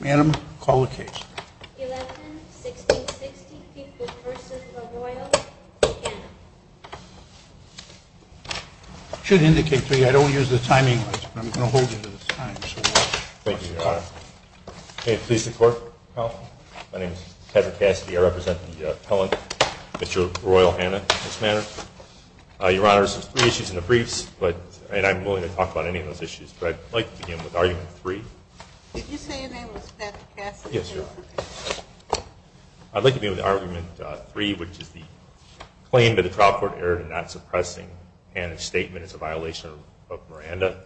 Madam, call the case. 11-16-60 Pinkwood v. Royall v. Hannan I should indicate to you I don't use the timing lights, but I'm going to hold you to the time. Thank you, Your Honor. May it please the Court. Counsel. My name is Kevin Cassidy. I represent the appellant, Mr. Royall Hannan, in this matter. Your Honor, there are three issues in the briefs, and I'm willing to talk about any of those issues, but I'd like to begin with argument three. Did you say your name was Kevin Cassidy? Yes, Your Honor. I'd like to begin with argument three, which is the claim that the trial court erred in not suppressing Hannan's statement as a violation of Miranda,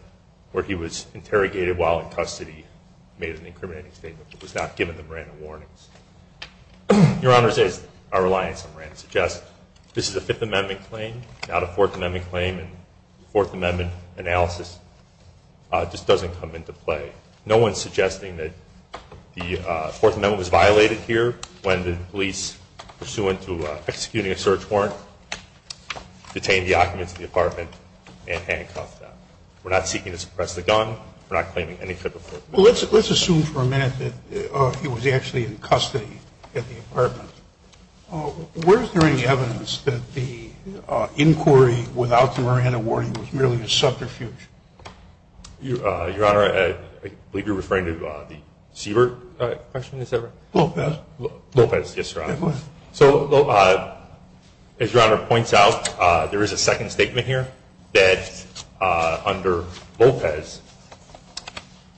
where he was interrogated while in custody, made an incriminating statement, but was not given the Miranda warnings. Your Honor, as our reliance on Miranda suggests, this is a Fifth Amendment claim, not a Fourth Amendment claim, and the Fourth Amendment analysis just doesn't come into play. No one is suggesting that the Fourth Amendment was violated here when the police, pursuant to executing a search warrant, detained the occupants of the apartment and handcuffed them. We're not seeking to suppress the gun. We're not claiming any Fifth Amendment. Well, let's assume for a minute that he was actually in custody at the apartment. Where is there any evidence that the inquiry without the Miranda warning was merely a subterfuge? Your Honor, I believe you're referring to the Siebert? The question is over. Lopez. Lopez, yes, Your Honor. Yes, please. So as Your Honor points out, there is a second statement here that under Lopez,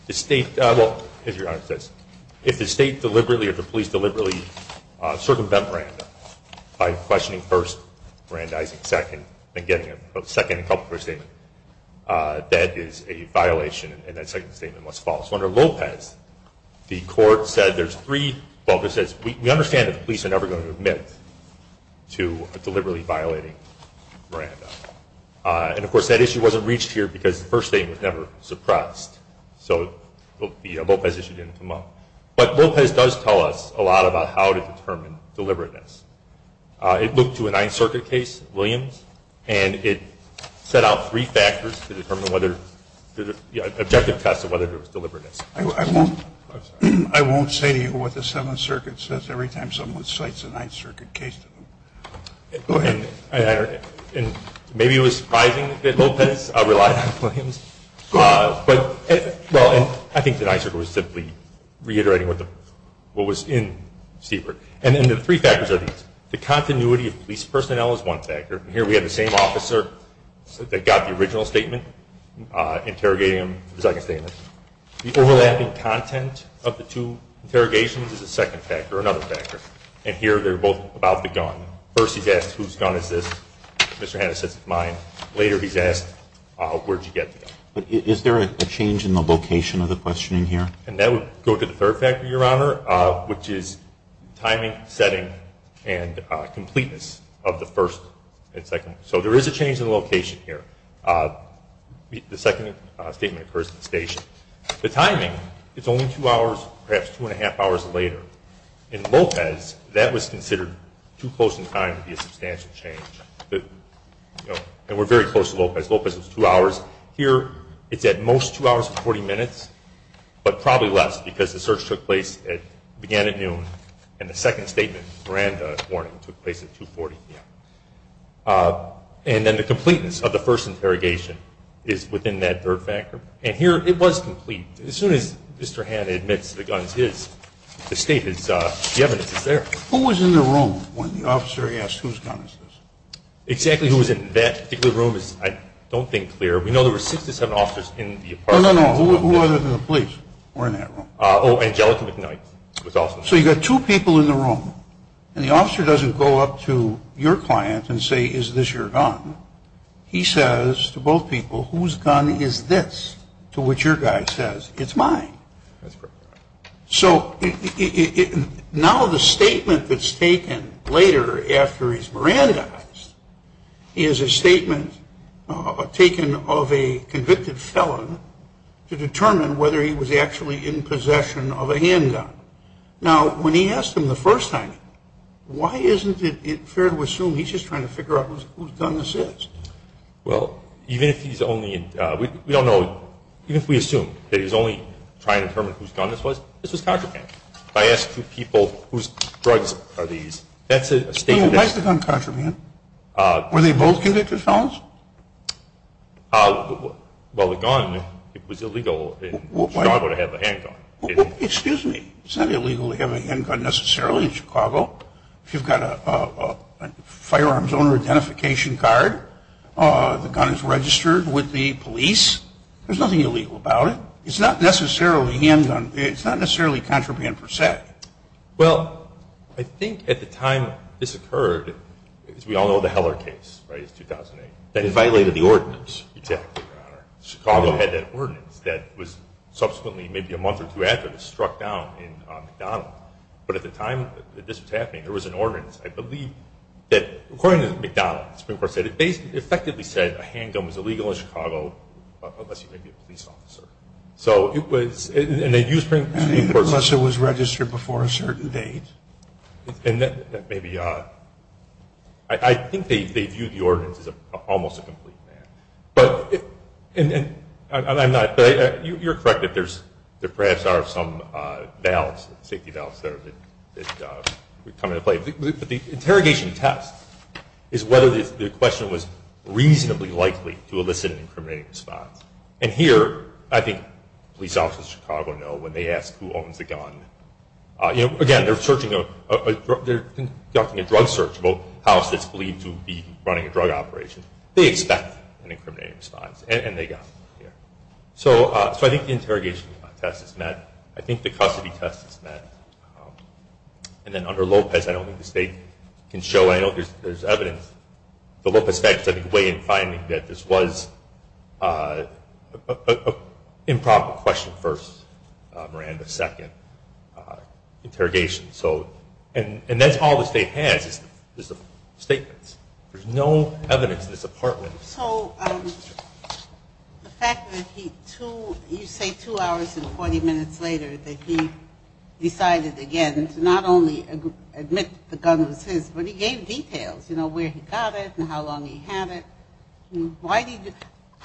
the State, well, as Your Honor says, if the State deliberately or the police deliberately circumvent Miranda by questioning first, Miranda Isaac second, and getting a second and a couple for a statement, that is a violation, and that second statement was false. Under Lopez, the Court said there's three, well, it says we understand that the police are never going to admit to deliberately violating Miranda. And, of course, that issue wasn't reached here because the first statement was never suppressed. So the Lopez issue didn't come up. But Lopez does tell us a lot about how to determine deliberateness. It looked to a Ninth Circuit case, Williams, and it set out three factors to determine whether the objective test of whether there was deliberateness. I won't say to you what the Seventh Circuit says every time someone cites a Ninth Circuit case to them. Go ahead. And maybe it was surprising that Lopez relied on Williams. But, well, I think the Ninth Circuit was simply reiterating what was in Siebert. And then the three factors are these. The continuity of police personnel is one factor. Here we have the same officer that got the original statement interrogating him for the second statement. The overlapping content of the two interrogations is a second factor, another factor. And here they're both about the gun. First he's asked, whose gun is this? Mr. Hanna says it's mine. Later he's asked, where did you get the gun? But is there a change in the location of the questioning here? And that would go to the third factor, Your Honor, which is timing, setting, and completeness of the first and second. So there is a change in location here. The second statement occurs at the station. The timing is only two hours, perhaps two and a half hours later. In Lopez, that was considered too close in time to be a substantial change. And we're very close to Lopez. Lopez was two hours. Here it's at most two hours and 40 minutes, but probably less because the search began at noon and the second statement, Miranda warning, took place at 2.40 p.m. And then the completeness of the first interrogation is within that third factor. And here it was complete. As soon as Mr. Hanna admits the gun is his, the evidence is there. Who was in the room when the officer asked, whose gun is this? Exactly who was in that particular room is I don't think clear. We know there were 67 officers in the apartment. No, no, no. Who other than the police were in that room? Angelica McKnight was also there. So you've got two people in the room, and the officer doesn't go up to your client and say, is this your gun? He says to both people, whose gun is this? To which your guy says, it's mine. So now the statement that's taken later after he's Mirandized is a statement taken of a convicted felon to determine whether he was actually in possession of a handgun. Now, when he asked him the first time, why isn't it fair to assume he's just trying to figure out whose gun this is? Well, even if he's only – we don't know – even if we assume that he's only trying to determine whose gun this was, this was contraband. If I ask people whose drugs are these, that's a statement that's – Why is the gun contraband? Were they both convicted felons? Well, the gun, it was illegal in Chicago to have a handgun. It's not illegal to have a handgun necessarily in Chicago. If you've got a firearms owner identification card, the gun is registered with the police. There's nothing illegal about it. It's not necessarily a handgun. It's not necessarily contraband per se. Well, I think at the time this occurred, as we all know, the Heller case, right? It's 2008. That violated the ordinance. Exactly, Your Honor. Chicago had that ordinance that was subsequently, maybe a month or two after this, struck down on McDonald's. But at the time that this was happening, there was an ordinance. I believe that, according to McDonald's, the Supreme Court said – it effectively said a handgun was illegal in Chicago unless you may be a police officer. So it was – and they used the Supreme Court's – Unless it was registered before a certain date. And that may be – I think they viewed the ordinance as almost a complete fad. But – and I'm not – but you're correct that there perhaps are some valves, safety valves there that come into play. But the interrogation test is whether the question was reasonably likely to elicit an incriminating response. And here, I think police officers in Chicago know when they ask who owns the gun – again, they're searching a – they're conducting a drug search of a house that's believed to be running a drug operation. They expect an incriminating response, and they got it here. So I think the interrogation test is met. I think the custody test is met. And then under Lopez, I don't think the state can show – I know there's evidence. The Lopez facts, I think, weigh in finding that this was an improper question first, Miranda, second interrogation. So – and that's all the state has is the statements. There's no evidence in this apartment. So the fact that he – you say two hours and 40 minutes later that he decided again to not only admit the gun was his, but he gave details, you know, where he got it and how long he had it. Why did –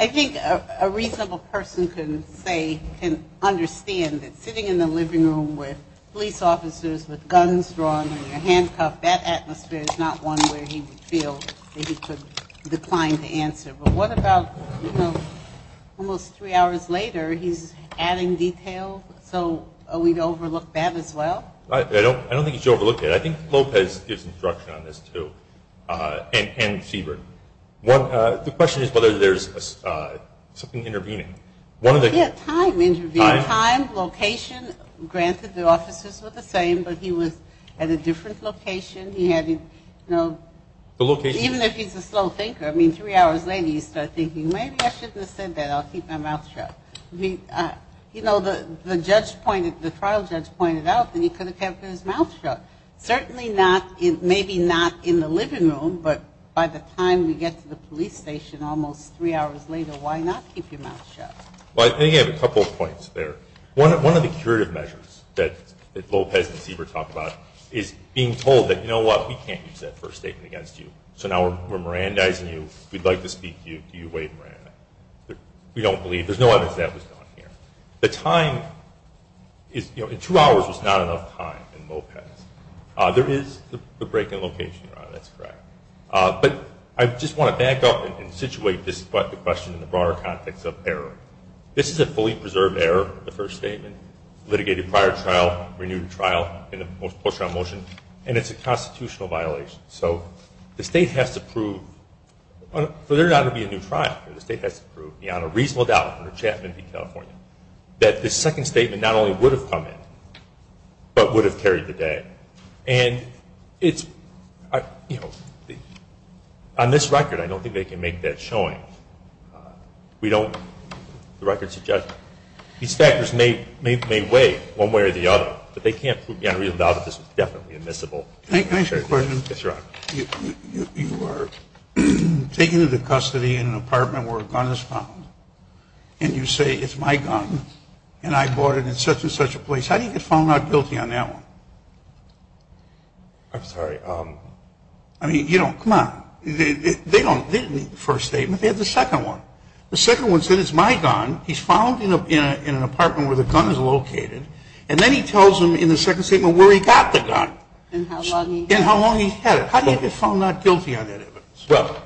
I think a reasonable person can say – can understand that sitting in the living room with police officers with guns drawn and your handcuffed, that atmosphere is not one where he would feel that he could decline to answer. But what about, you know, almost three hours later, he's adding detail so we'd overlook that as well? I don't think he should overlook it. I think Lopez gives instruction on this, too, and Siebert. The question is whether there's something intervening. Yeah, time intervening. Time. Time, location. Granted, the officers were the same, but he was at a different location. He had, you know – The location. Even if he's a slow thinker. I mean, three hours later, you start thinking, maybe I shouldn't have said that. I'll keep my mouth shut. You know, the judge pointed – the trial judge pointed out that he could have kept his mouth shut. Certainly not – maybe not in the living room, but by the time we get to the police station almost three hours later, why not keep your mouth shut? Well, I think I have a couple of points there. One of the curative measures that Lopez and Siebert talk about is being told that, you know what, we can't use that first statement against you, so now we're Mirandizing you. We'd like to speak to you. Do you wait, Miranda? We don't believe – there's no evidence that was done here. The time is – you know, in two hours was not enough time in Lopez. There is the break in location, Ron, that's correct. But I just want to back up and situate this question in the broader context of error. This is a fully preserved error, the first statement, litigated prior trial, renewed trial, and the post-trial motion, and it's a constitutional violation. So the state has to prove – for there not to be a new trial, the state has to prove, beyond a reasonable doubt, under Chapman v. California, that this second statement not only would have come in, but would have carried the day. And it's – you know, on this record, I don't think they can make that showing. We don't – the record suggests these factors may weigh one way or the other, but they can't prove beyond a reasonable doubt that this was definitely admissible. Can I ask you a question? Yes, sir. You are taken into custody in an apartment where a gun is found, and you say, it's my gun, and I bought it in such-and-such a place. How do you get found not guilty on that one? I'm sorry. I mean, you don't – come on. They don't – they didn't need the first statement. They had the second one. The second one said, it's my gun. He's found in an apartment where the gun is located, and then he tells them in the second statement where he got the gun. And how long he's had it. And how long he's had it. How do you get found not guilty on that evidence? Well,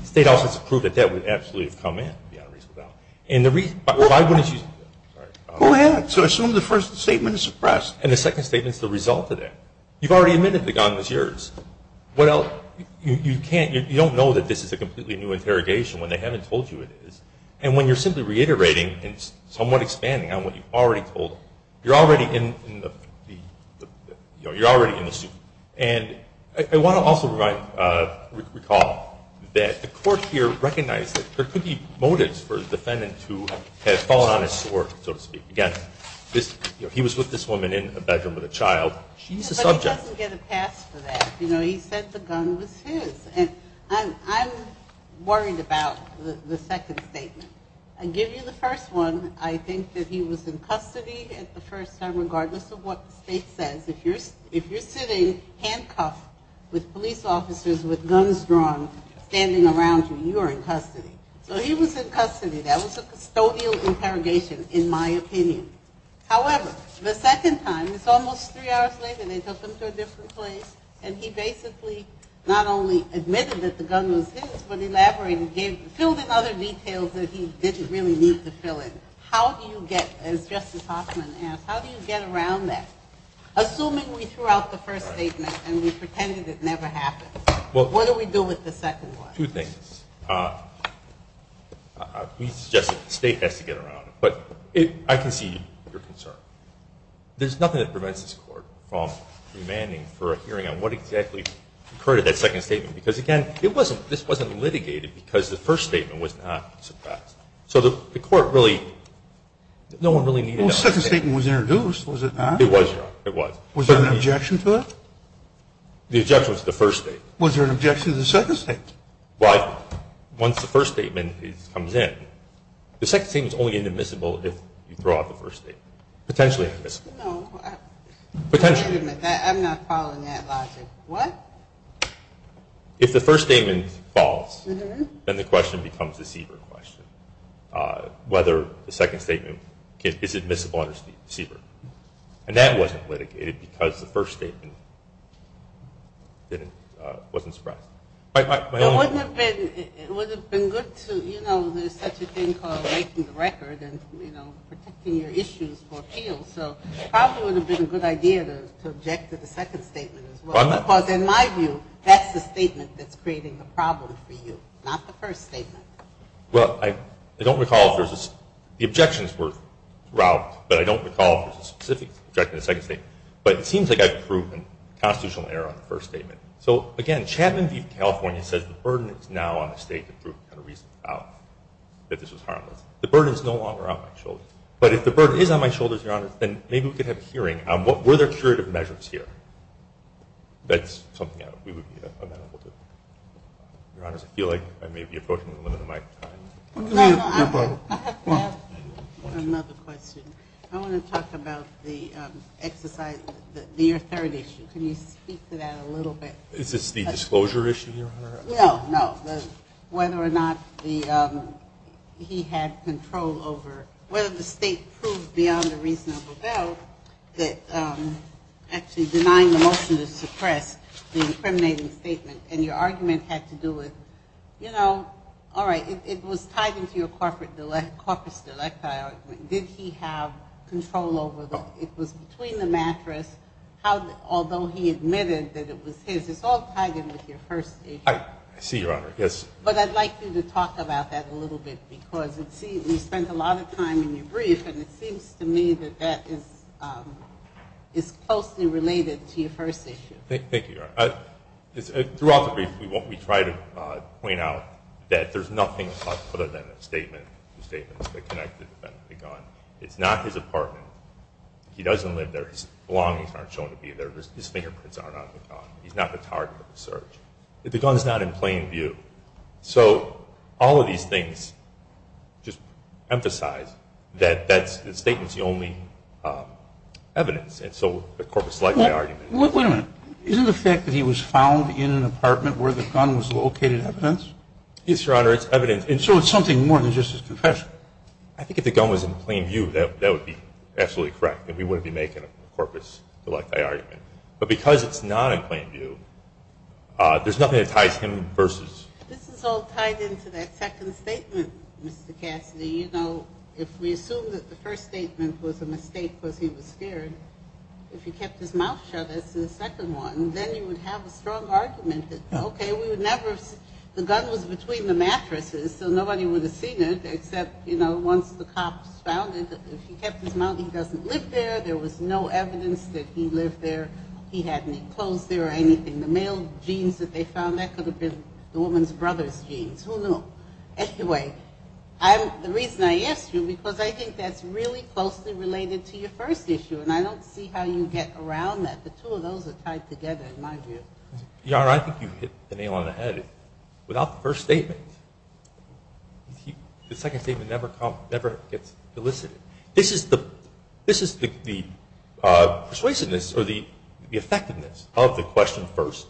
the state office has proved that that would absolutely have come in, beyond a reasonable doubt. And the reason – but why wouldn't you – sorry. Go ahead. So assume the first statement is suppressed. And the second statement is the result of that. You've already admitted the gun was yours. What else – you can't – you don't know that this is a completely new interrogation when they haven't told you it is. And when you're simply reiterating and somewhat expanding on what you've already told, you're already in the – you know, you're already in the suit. And I want to also recall that the Court here recognized that there could be motives for a defendant who had fallen on his sword, so to speak. Again, he was with this woman in a bedroom with a child. She's a subject. But he doesn't get a pass for that. You know, he said the gun was his. And I'm worried about the second statement. I give you the first one. I think that he was in custody at the first time, regardless of what the state says. If you're sitting handcuffed with police officers with guns drawn standing around you, you are in custody. So he was in custody. That was a custodial interrogation, in my opinion. However, the second time, it's almost three hours later, they took him to a different place, and he basically not only admitted that the gun was his, but elaborated and filled in other details that he didn't really need to fill in. How do you get, as Justice Hoffman asked, how do you get around that? Assuming we threw out the first statement and we pretended it never happened, what do we do with the second one? Two things. We suggest that the state has to get around it. But I can see your concern. There's nothing that prevents this Court from demanding for a hearing on what exactly occurred in that second statement. Because, again, this wasn't litigated because the first statement was not suppressed. So the Court really, no one really needed a second statement. Well, the second statement was introduced, was it not? It was, Your Honor. It was. Was there an objection to it? The objection was to the first statement. Was there an objection to the second statement? Well, once the first statement comes in, the second statement is only inadmissible if you throw out the first statement. Potentially inadmissible. No. Potentially. I'm not following that logic. What? If the first statement falls, then the question becomes a CBER question, whether the second statement is admissible under CBER. And that wasn't litigated because the first statement wasn't suppressed. It would have been good to, you know, there's such a thing called making the record and, you know, protecting your issues for appeals. So it probably would have been a good idea to object to the second statement as well. Because in my view, that's the statement that's creating the problem for you, not the first statement. Well, I don't recall if there's a specific objection to the second statement. But it seems like I've proved a constitutional error on the first statement. So, again, Chapman v. California says the burden is now on the State to prove without a reason that this was harmless. The burden is no longer on my shoulders. But if the burden is on my shoulders, Your Honor, then maybe we could have a hearing on were there curative measures here. That's something we would be amenable to. Your Honors, I feel like I may be approaching the limit of my time. No, no, I have another question. I want to talk about the exercise, your third issue. Can you speak to that a little bit? Is this the disclosure issue, Your Honor? No, no. Whether or not he had control over whether the State proved beyond a reasonable doubt that actually denying the motion to suppress the incriminating statement and your argument had to do with, you know, all right, it was tied into your corpus delicti argument. Did he have control over it? It was between the mattress, although he admitted that it was his. It's all tied in with your first issue. I see, Your Honor, yes. But I'd like you to talk about that a little bit because we spent a lot of time in your brief, and it seems to me that that is closely related to your first issue. Thank you, Your Honor. Throughout the brief, we try to point out that there's nothing other than a statement. The statement is connected to the gun. It's not his apartment. He doesn't live there. His belongings aren't shown to be there. His fingerprints are not on the gun. He's not the target of the search. The gun is not in plain view. So all of these things just emphasize that the statement is the only evidence, and so the corpus delicti argument. Wait a minute. Isn't the fact that he was found in an apartment where the gun was located evidence? Yes, Your Honor, it's evidence. So it's something more than just his confession. I think if the gun was in plain view, that would be absolutely correct and we wouldn't be making a corpus delicti argument. But because it's not in plain view, there's nothing that ties him versus. This is all tied into that second statement, Mr. Cassidy. You know, if we assume that the first statement was a mistake because he was scared, if he kept his mouth shut as to the second one, then you would have a strong argument that, okay, the gun was between the mattresses, so nobody would have seen it, except, you know, once the cops found it. If he kept his mouth, he doesn't live there. There was no evidence that he lived there. He had any clothes there or anything. The male jeans that they found, that could have been the woman's brother's jeans. Who knew? Anyway, the reason I ask you, because I think that's really closely related to your first issue, and I don't see how you get around that. The two of those are tied together, in my view. Your Honor, I think you hit the nail on the head. Without the first statement, the second statement never gets elicited. This is the persuasiveness or the effectiveness of the question first,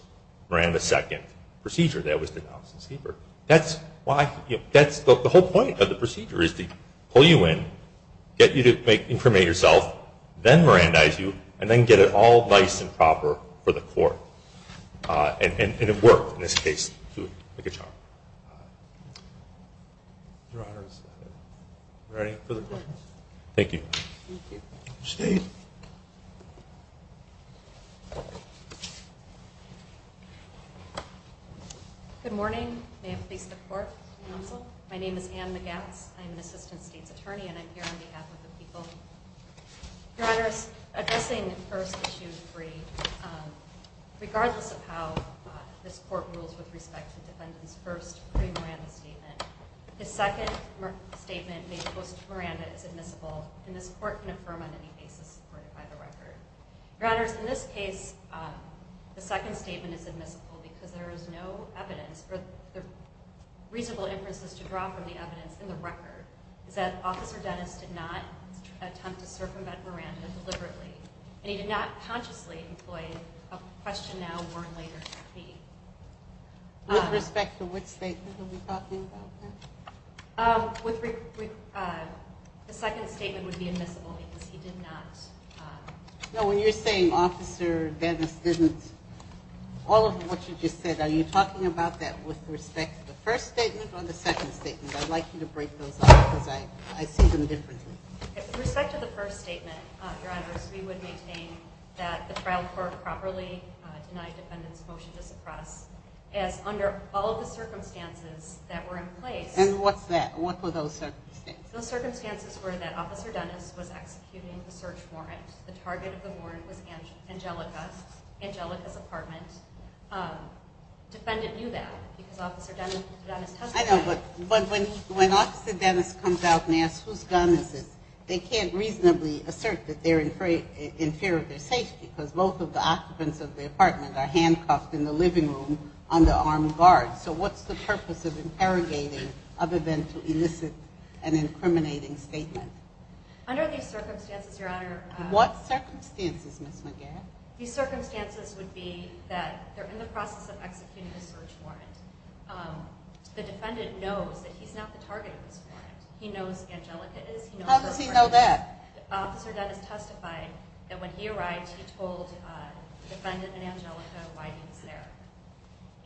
Miranda second, procedure that was denounced in Skeper. That's why, you know, that's the whole point of the procedure is to pull you in, get you to incriminate yourself, then Mirandize you, and then get it all nice and proper for the court. And it worked, in this case, to pick a child. Your Honor, is there any further questions? Thank you. Thank you. State. Good morning. May I please report to the counsel? My name is Anne McGats. I'm an assistant state's attorney, and I'm here on behalf of the people. Your Honor, addressing first issue three, regardless of how this court rules with respect to defendant's first pre-Miranda statement, the second statement made post-Miranda is admissible, and this court can affirm on any basis supported by the record. Your Honor, in this case, the second statement is admissible because there is no evidence, or reasonable inferences to draw from the evidence in the record, is that Officer Dennis did not attempt to circumvent Miranda deliberately, and he did not consciously employ a question now, warn later. With respect to which statement are we talking about? The second statement would be admissible because he did not. No, when you're saying Officer Dennis didn't, all of what you just said, are you talking about that with respect to the first statement or the second statement? I'd like you to break those up because I see them differently. With respect to the first statement, Your Honor, we would maintain that the trial court properly denied defendant's motion to suppress, as under all of the circumstances that were in place. And what's that? What were those circumstances? Those circumstances were that Officer Dennis was executing the search warrant. The target of the warrant was Angelica's apartment. Defendant knew that because Officer Dennis testified. I know, but when Officer Dennis comes out and asks whose gun is this, they can't reasonably assert that they're in fear of their safety because both of the occupants of the apartment are handcuffed in the living room under armed guards. So what's the purpose of interrogating other than to elicit an incriminating statement? Under these circumstances, Your Honor, What circumstances, Ms. McGarrett? These circumstances would be that they're in the process of executing the search warrant. The defendant knows that he's not the target of this warrant. He knows Angelica is. How does he know that? Officer Dennis testified that when he arrived, he told defendant and Angelica why he was there.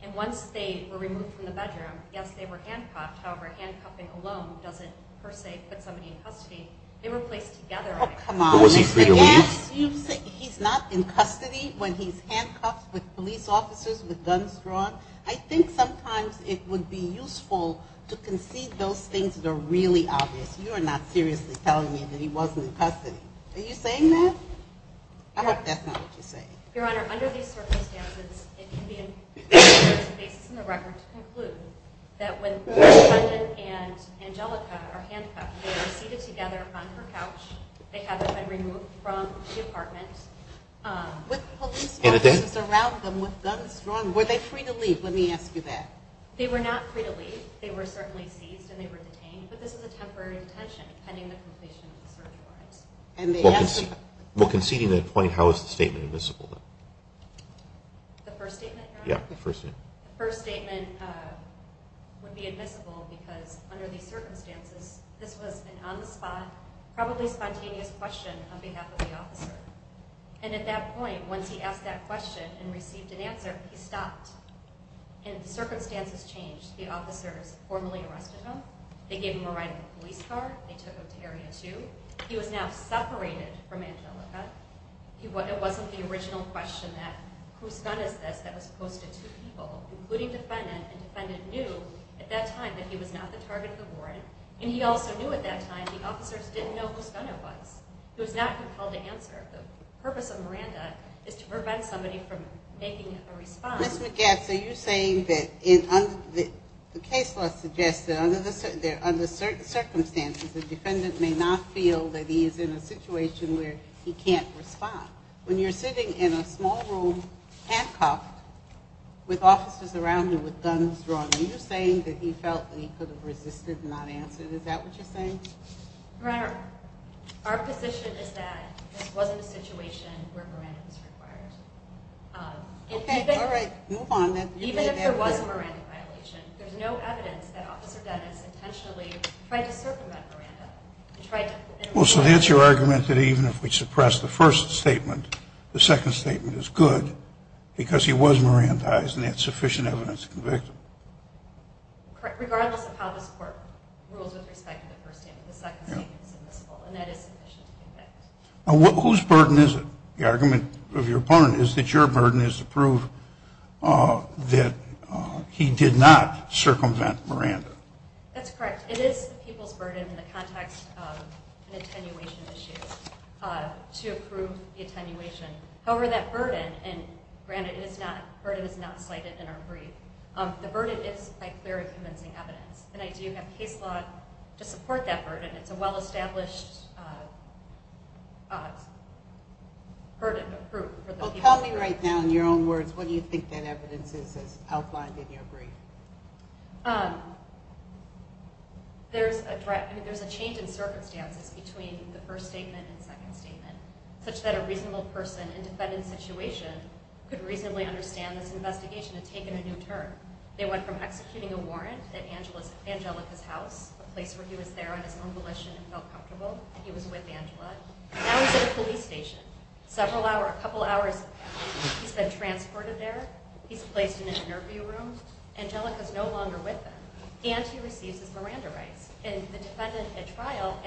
And once they were removed from the bedroom, yes, they were handcuffed. However, handcuffing alone doesn't per se put somebody in custody. They were placed together. Oh, come on. Yes, you say he's not in custody when he's handcuffed with police officers with guns drawn. I think sometimes it would be useful to concede those things that are really obvious. You are not seriously telling me that he wasn't in custody. Are you saying that? I hope that's not what you're saying. Your Honor, under these circumstances, it can be a basis in the record to conclude that when the defendant and Angelica are handcuffed, they were seated together on her couch. They haven't been removed from the apartment. With police officers around them with guns drawn, were they free to leave? Let me ask you that. They were not free to leave. They were certainly seized and they were detained. But this is a temporary detention depending on the completion of the search warrant. Well, conceding that point, how is the statement admissible? The first statement, Your Honor? Yes, the first statement. The first statement would be admissible because under these circumstances, this was an on-the-spot, probably spontaneous question on behalf of the officer. And at that point, once he asked that question and received an answer, he stopped. And the circumstances changed. The officers formally arrested him. They gave him a ride in a police car. They took him to Area 2. He was now separated from Angelica. It wasn't the original question that whose gun is this that was posted to people, including defendant, and defendant knew at that time that he was not the target of the warrant. And he also knew at that time the officers didn't know whose gun it was. He was not compelled to answer. The purpose of Miranda is to prevent somebody from making a response. Ms. McGatts, are you saying that the case law suggests that under certain circumstances, the defendant may not feel that he is in a situation where he can't respond? When you're sitting in a small room handcuffed with officers around you with guns drawn, are you saying that he felt that he could have resisted and not answered? Is that what you're saying? Your Honor, our position is that this wasn't a situation where Miranda was required. Okay, all right, move on. Even if there was a Miranda violation, there's no evidence that Officer Dennis intentionally tried to circumvent Miranda. Well, so that's your argument that even if we suppress the first statement, the second statement is good because he was Mirandized and there's sufficient evidence to convict him. Correct. Regardless of how this Court rules with respect to the first statement, the second statement is admissible, and that is sufficient to convict. Whose burden is it? The argument of your opponent is that your burden is to prove that he did not circumvent Miranda. That's correct. It is the people's burden in the context of an attenuation issue to prove the attenuation. However, that burden, and granted, the burden is not cited in our brief, the burden is by clear and convincing evidence, and I do have case law to support that burden. It's a well-established burden of proof for the people. Tell me right now, in your own words, what do you think that evidence is, as outlined in your brief? There's a change in circumstances between the first statement and second statement, such that a reasonable person in a defendant's situation could reasonably understand this investigation had taken a new turn. They went from executing a warrant at Angelica's house, a place where he was there on his own volition and felt comfortable, and he was with Angela, now he's at a police station, several hours, a couple hours, he's been transported there, he's placed in an interview room, Angelica's no longer with him, and he receives his Miranda rights. And the defendant at trial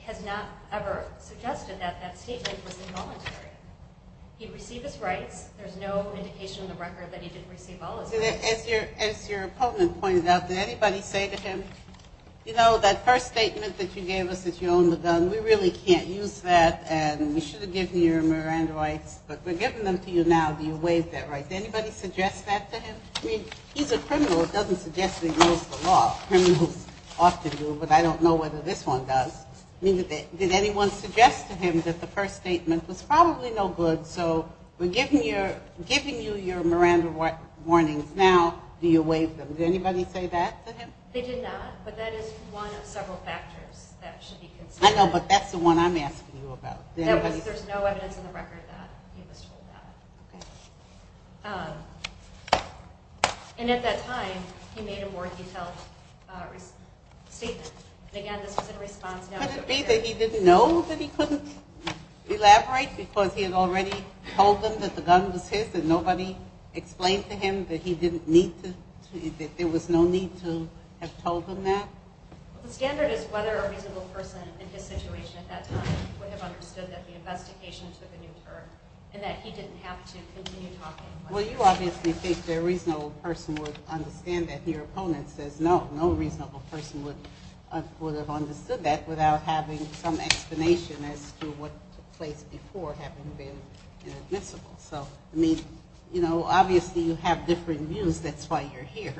has not ever suggested that that statement was involuntary. He received his rights. There's no indication in the record that he didn't receive all his rights. As your opponent pointed out, did anybody say to him, you know, that first statement that you gave us, that you own the gun, we really can't use that, and we should have given you your Miranda rights, but we're giving them to you now, do you waive that right? Did anybody suggest that to him? I mean, he's a criminal, it doesn't suggest he knows the law. Criminals often do, but I don't know whether this one does. Did anyone suggest to him that the first statement was probably no good, so we're giving you your Miranda warnings now, do you waive them? Did anybody say that to him? They did not, but that is one of several factors that should be considered. I know, but that's the one I'm asking you about. There's no evidence in the record that he was told that. Okay. And at that time, he made a more detailed statement. And again, this was in response. Could it be that he didn't know that he couldn't elaborate because he had already told them that the gun was his and nobody explained to him that there was no need to have told him that? The standard is whether a reasonable person in his situation at that time would have understood that the investigation took a new turn and that he didn't have to continue talking. Well, you obviously think the reasonable person would understand that. Your opponent says no, no reasonable person would have understood that without having some explanation as to what took place before having been inadmissible. So, I mean, obviously you have different views. That's why you're here.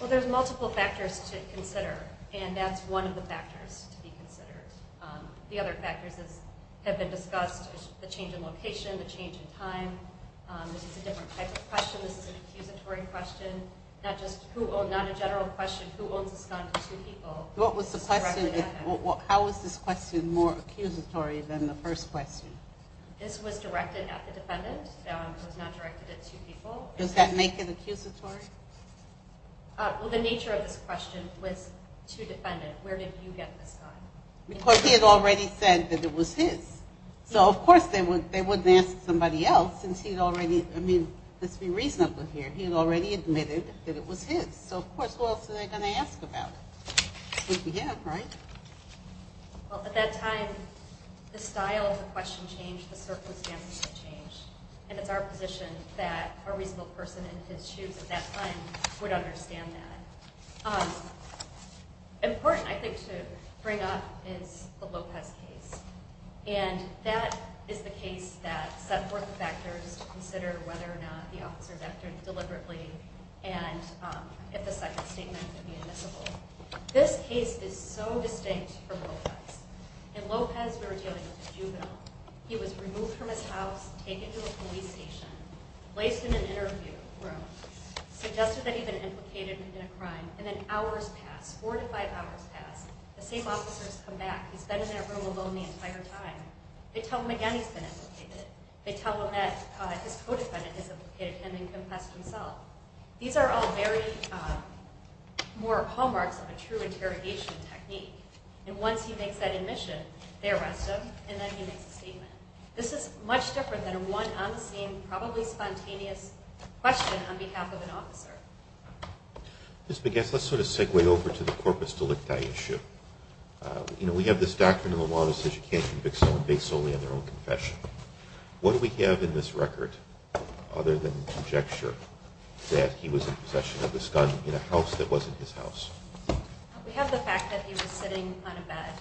Well, there's multiple factors to consider, and that's one of the factors to be considered. The other factors have been discussed, the change in location, the change in time. This is a different type of question. This is an accusatory question, not a general question. Who owns a gun to two people? How is this question more accusatory than the first question? This was directed at the defendant. It was not directed at two people. Does that make it accusatory? Well, the nature of this question was to defendant. Where did you get this gun? Because he had already said that it was his. So, of course, they wouldn't ask somebody else since he had already, I mean, let's be reasonable here. He had already admitted that it was his. So, of course, who else are they going to ask about it? Which we have, right? Well, at that time, the style of the question changed, the circumstances had changed, and it's our position that a reasonable person in his shoes at that time would understand that. Important, I think, to bring up is the Lopez case, and that is the case that set forth the factors to consider whether or not the officer vectored deliberately and if the second statement could be admissible. This case is so distinct from Lopez. In Lopez, we were dealing with a juvenile. He was removed from his house, taken to a police station, placed in an interview room, suggested that he'd been implicated in a crime, and then hours pass, four to five hours pass. The same officers come back. He's been in that room alone the entire time. They tell him again he's been implicated. They tell him that his co-defendant has implicated him and confessed himself. These are all very more hallmarks of a true interrogation technique. And once he makes that admission, they arrest him, and then he makes a statement. This is much different than a one-on-the-scene, probably spontaneous question on behalf of an officer. Ms. Bigas, let's sort of segue over to the corpus delicti issue. You know, we have this doctrine in the law that says you can't convict someone based solely on their own confession. What do we have in this record other than conjecture? That he was in possession of this gun in a house that wasn't his house. We have the fact that he was sitting on a bed,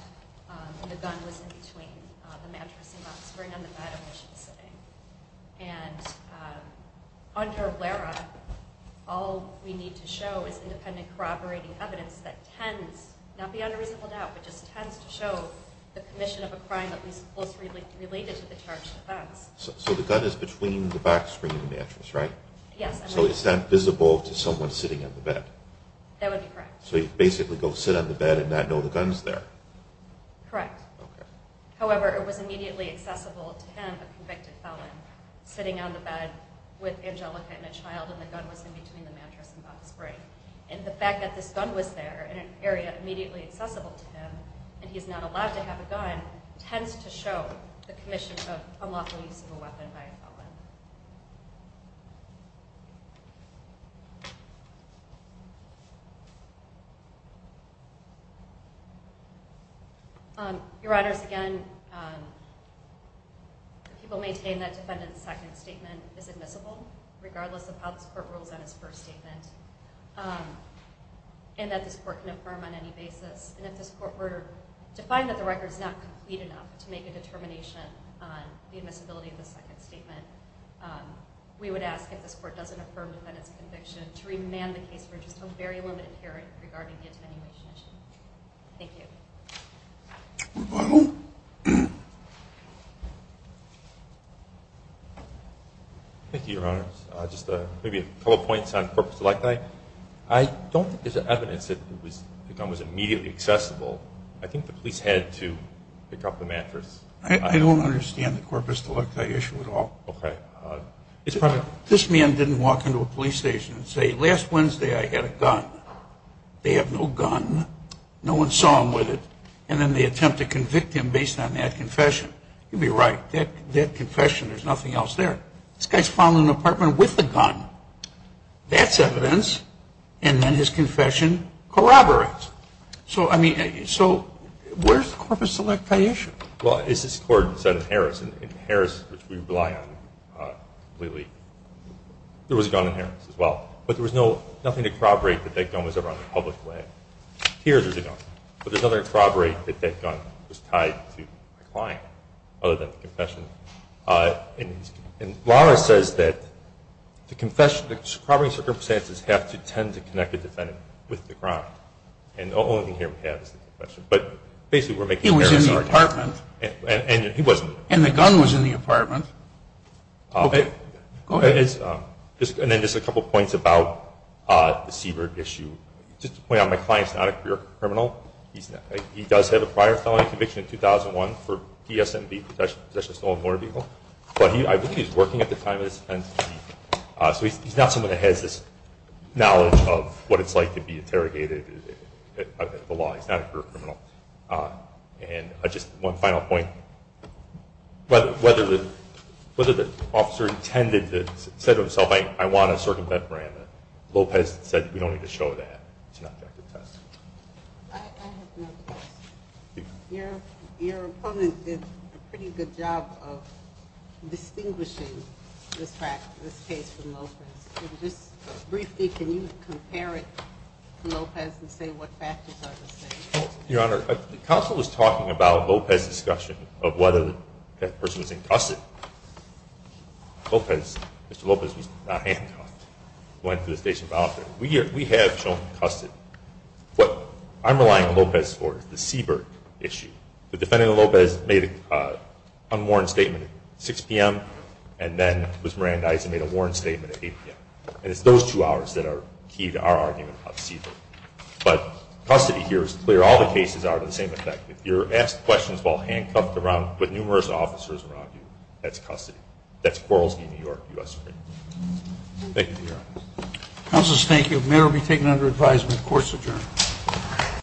and the gun was in between the mattress and back screen and the bed in which he was sitting. And under LERA, all we need to show is independent corroborating evidence that tends not beyond a reasonable doubt, but just tends to show the commission of a crime that was closely related to the charged offense. So the gun is between the back screen and the mattress, right? Yes. So is that visible to someone sitting on the bed? That would be correct. So you basically go sit on the bed and not know the gun's there? Correct. Okay. However, it was immediately accessible to him, a convicted felon, sitting on the bed with Angelica and a child, and the gun was in between the mattress and back screen. And the fact that this gun was there in an area immediately accessible to him and he's not allowed to have a gun tends to show the commission of unlawful use of a weapon by a felon. Your Honors, again, people maintain that defendant's second statement is admissible, regardless of how this court rules on his first statement, and that this court can affirm on any basis. And if this court were to find that the record is not complete enough to make a determination on the admissibility of the second statement, we would ask if this court doesn't affirm the defendant's conviction to remand the case for just a very limited period regarding the attenuation issue. Thank you. Rebuttal. Thank you, Your Honors. Just maybe a couple points on purpose. I don't think there's evidence that the gun was immediately accessible. I think the police had to pick up the mattress. I don't understand the corpus delicti issue at all. Okay. This man didn't walk into a police station and say, last Wednesday I had a gun. They have no gun. No one saw him with it. And then they attempt to convict him based on that confession. You'd be right. That confession, there's nothing else there. This guy's found in an apartment with a gun. That's evidence. And then his confession corroborates. So, I mean, so where's the corpus delicti issue? Well, as this court said in Harris, in Harris, which we rely on completely, there was a gun in Harris as well. But there was nothing to corroborate that that gun was ever on the public land. Here there's a gun. But there's nothing to corroborate that that gun was tied to a client other than the confession. And Lara says that the confession, the corroborating circumstances have to tend to connect the defendant with the crime. And the only thing here we have is the confession. But basically we're making a comparison. He was in the apartment. And he wasn't. And the gun was in the apartment. Okay. Go ahead. And then just a couple points about the Siebert issue. Just to point out, my client's not a career criminal. He does have a prior felony conviction in 2001 for P.S. 7B, possession of stolen motor vehicle. But I believe he was working at the time of this offense. So he's not someone that has this knowledge of what it's like to be interrogated at the law. He's not a career criminal. And just one final point. Whether the officer intended to say to himself, I want to circumvent Miranda, Lopez said we don't need to show that. It's an objective test. I have another question. Your opponent did a pretty good job of distinguishing this fact, this case, from Lopez. Just briefly, can you compare it to Lopez and say what factors are the same? Your Honor, the counsel was talking about Lopez's discussion of whether that person was incusted. Lopez, Mr. Lopez, was not handcuffed. Went to the station about it. We have shown him incusted. I'm relying on Lopez for the Siebert issue. The defendant, Lopez, made an unwarranted statement at 6 p.m. and then was Mirandized and made a warranted statement at 8 p.m. And it's those two hours that are key to our argument about Siebert. But custody here is clear. All the cases are of the same effect. If you're asked questions while handcuffed with numerous officers around you, that's custody. That's Kowalski, New York, U.S. Supreme Court. Thank you, Your Honor. Counselors, thank you. The matter will be taken under advisement. Court is adjourned.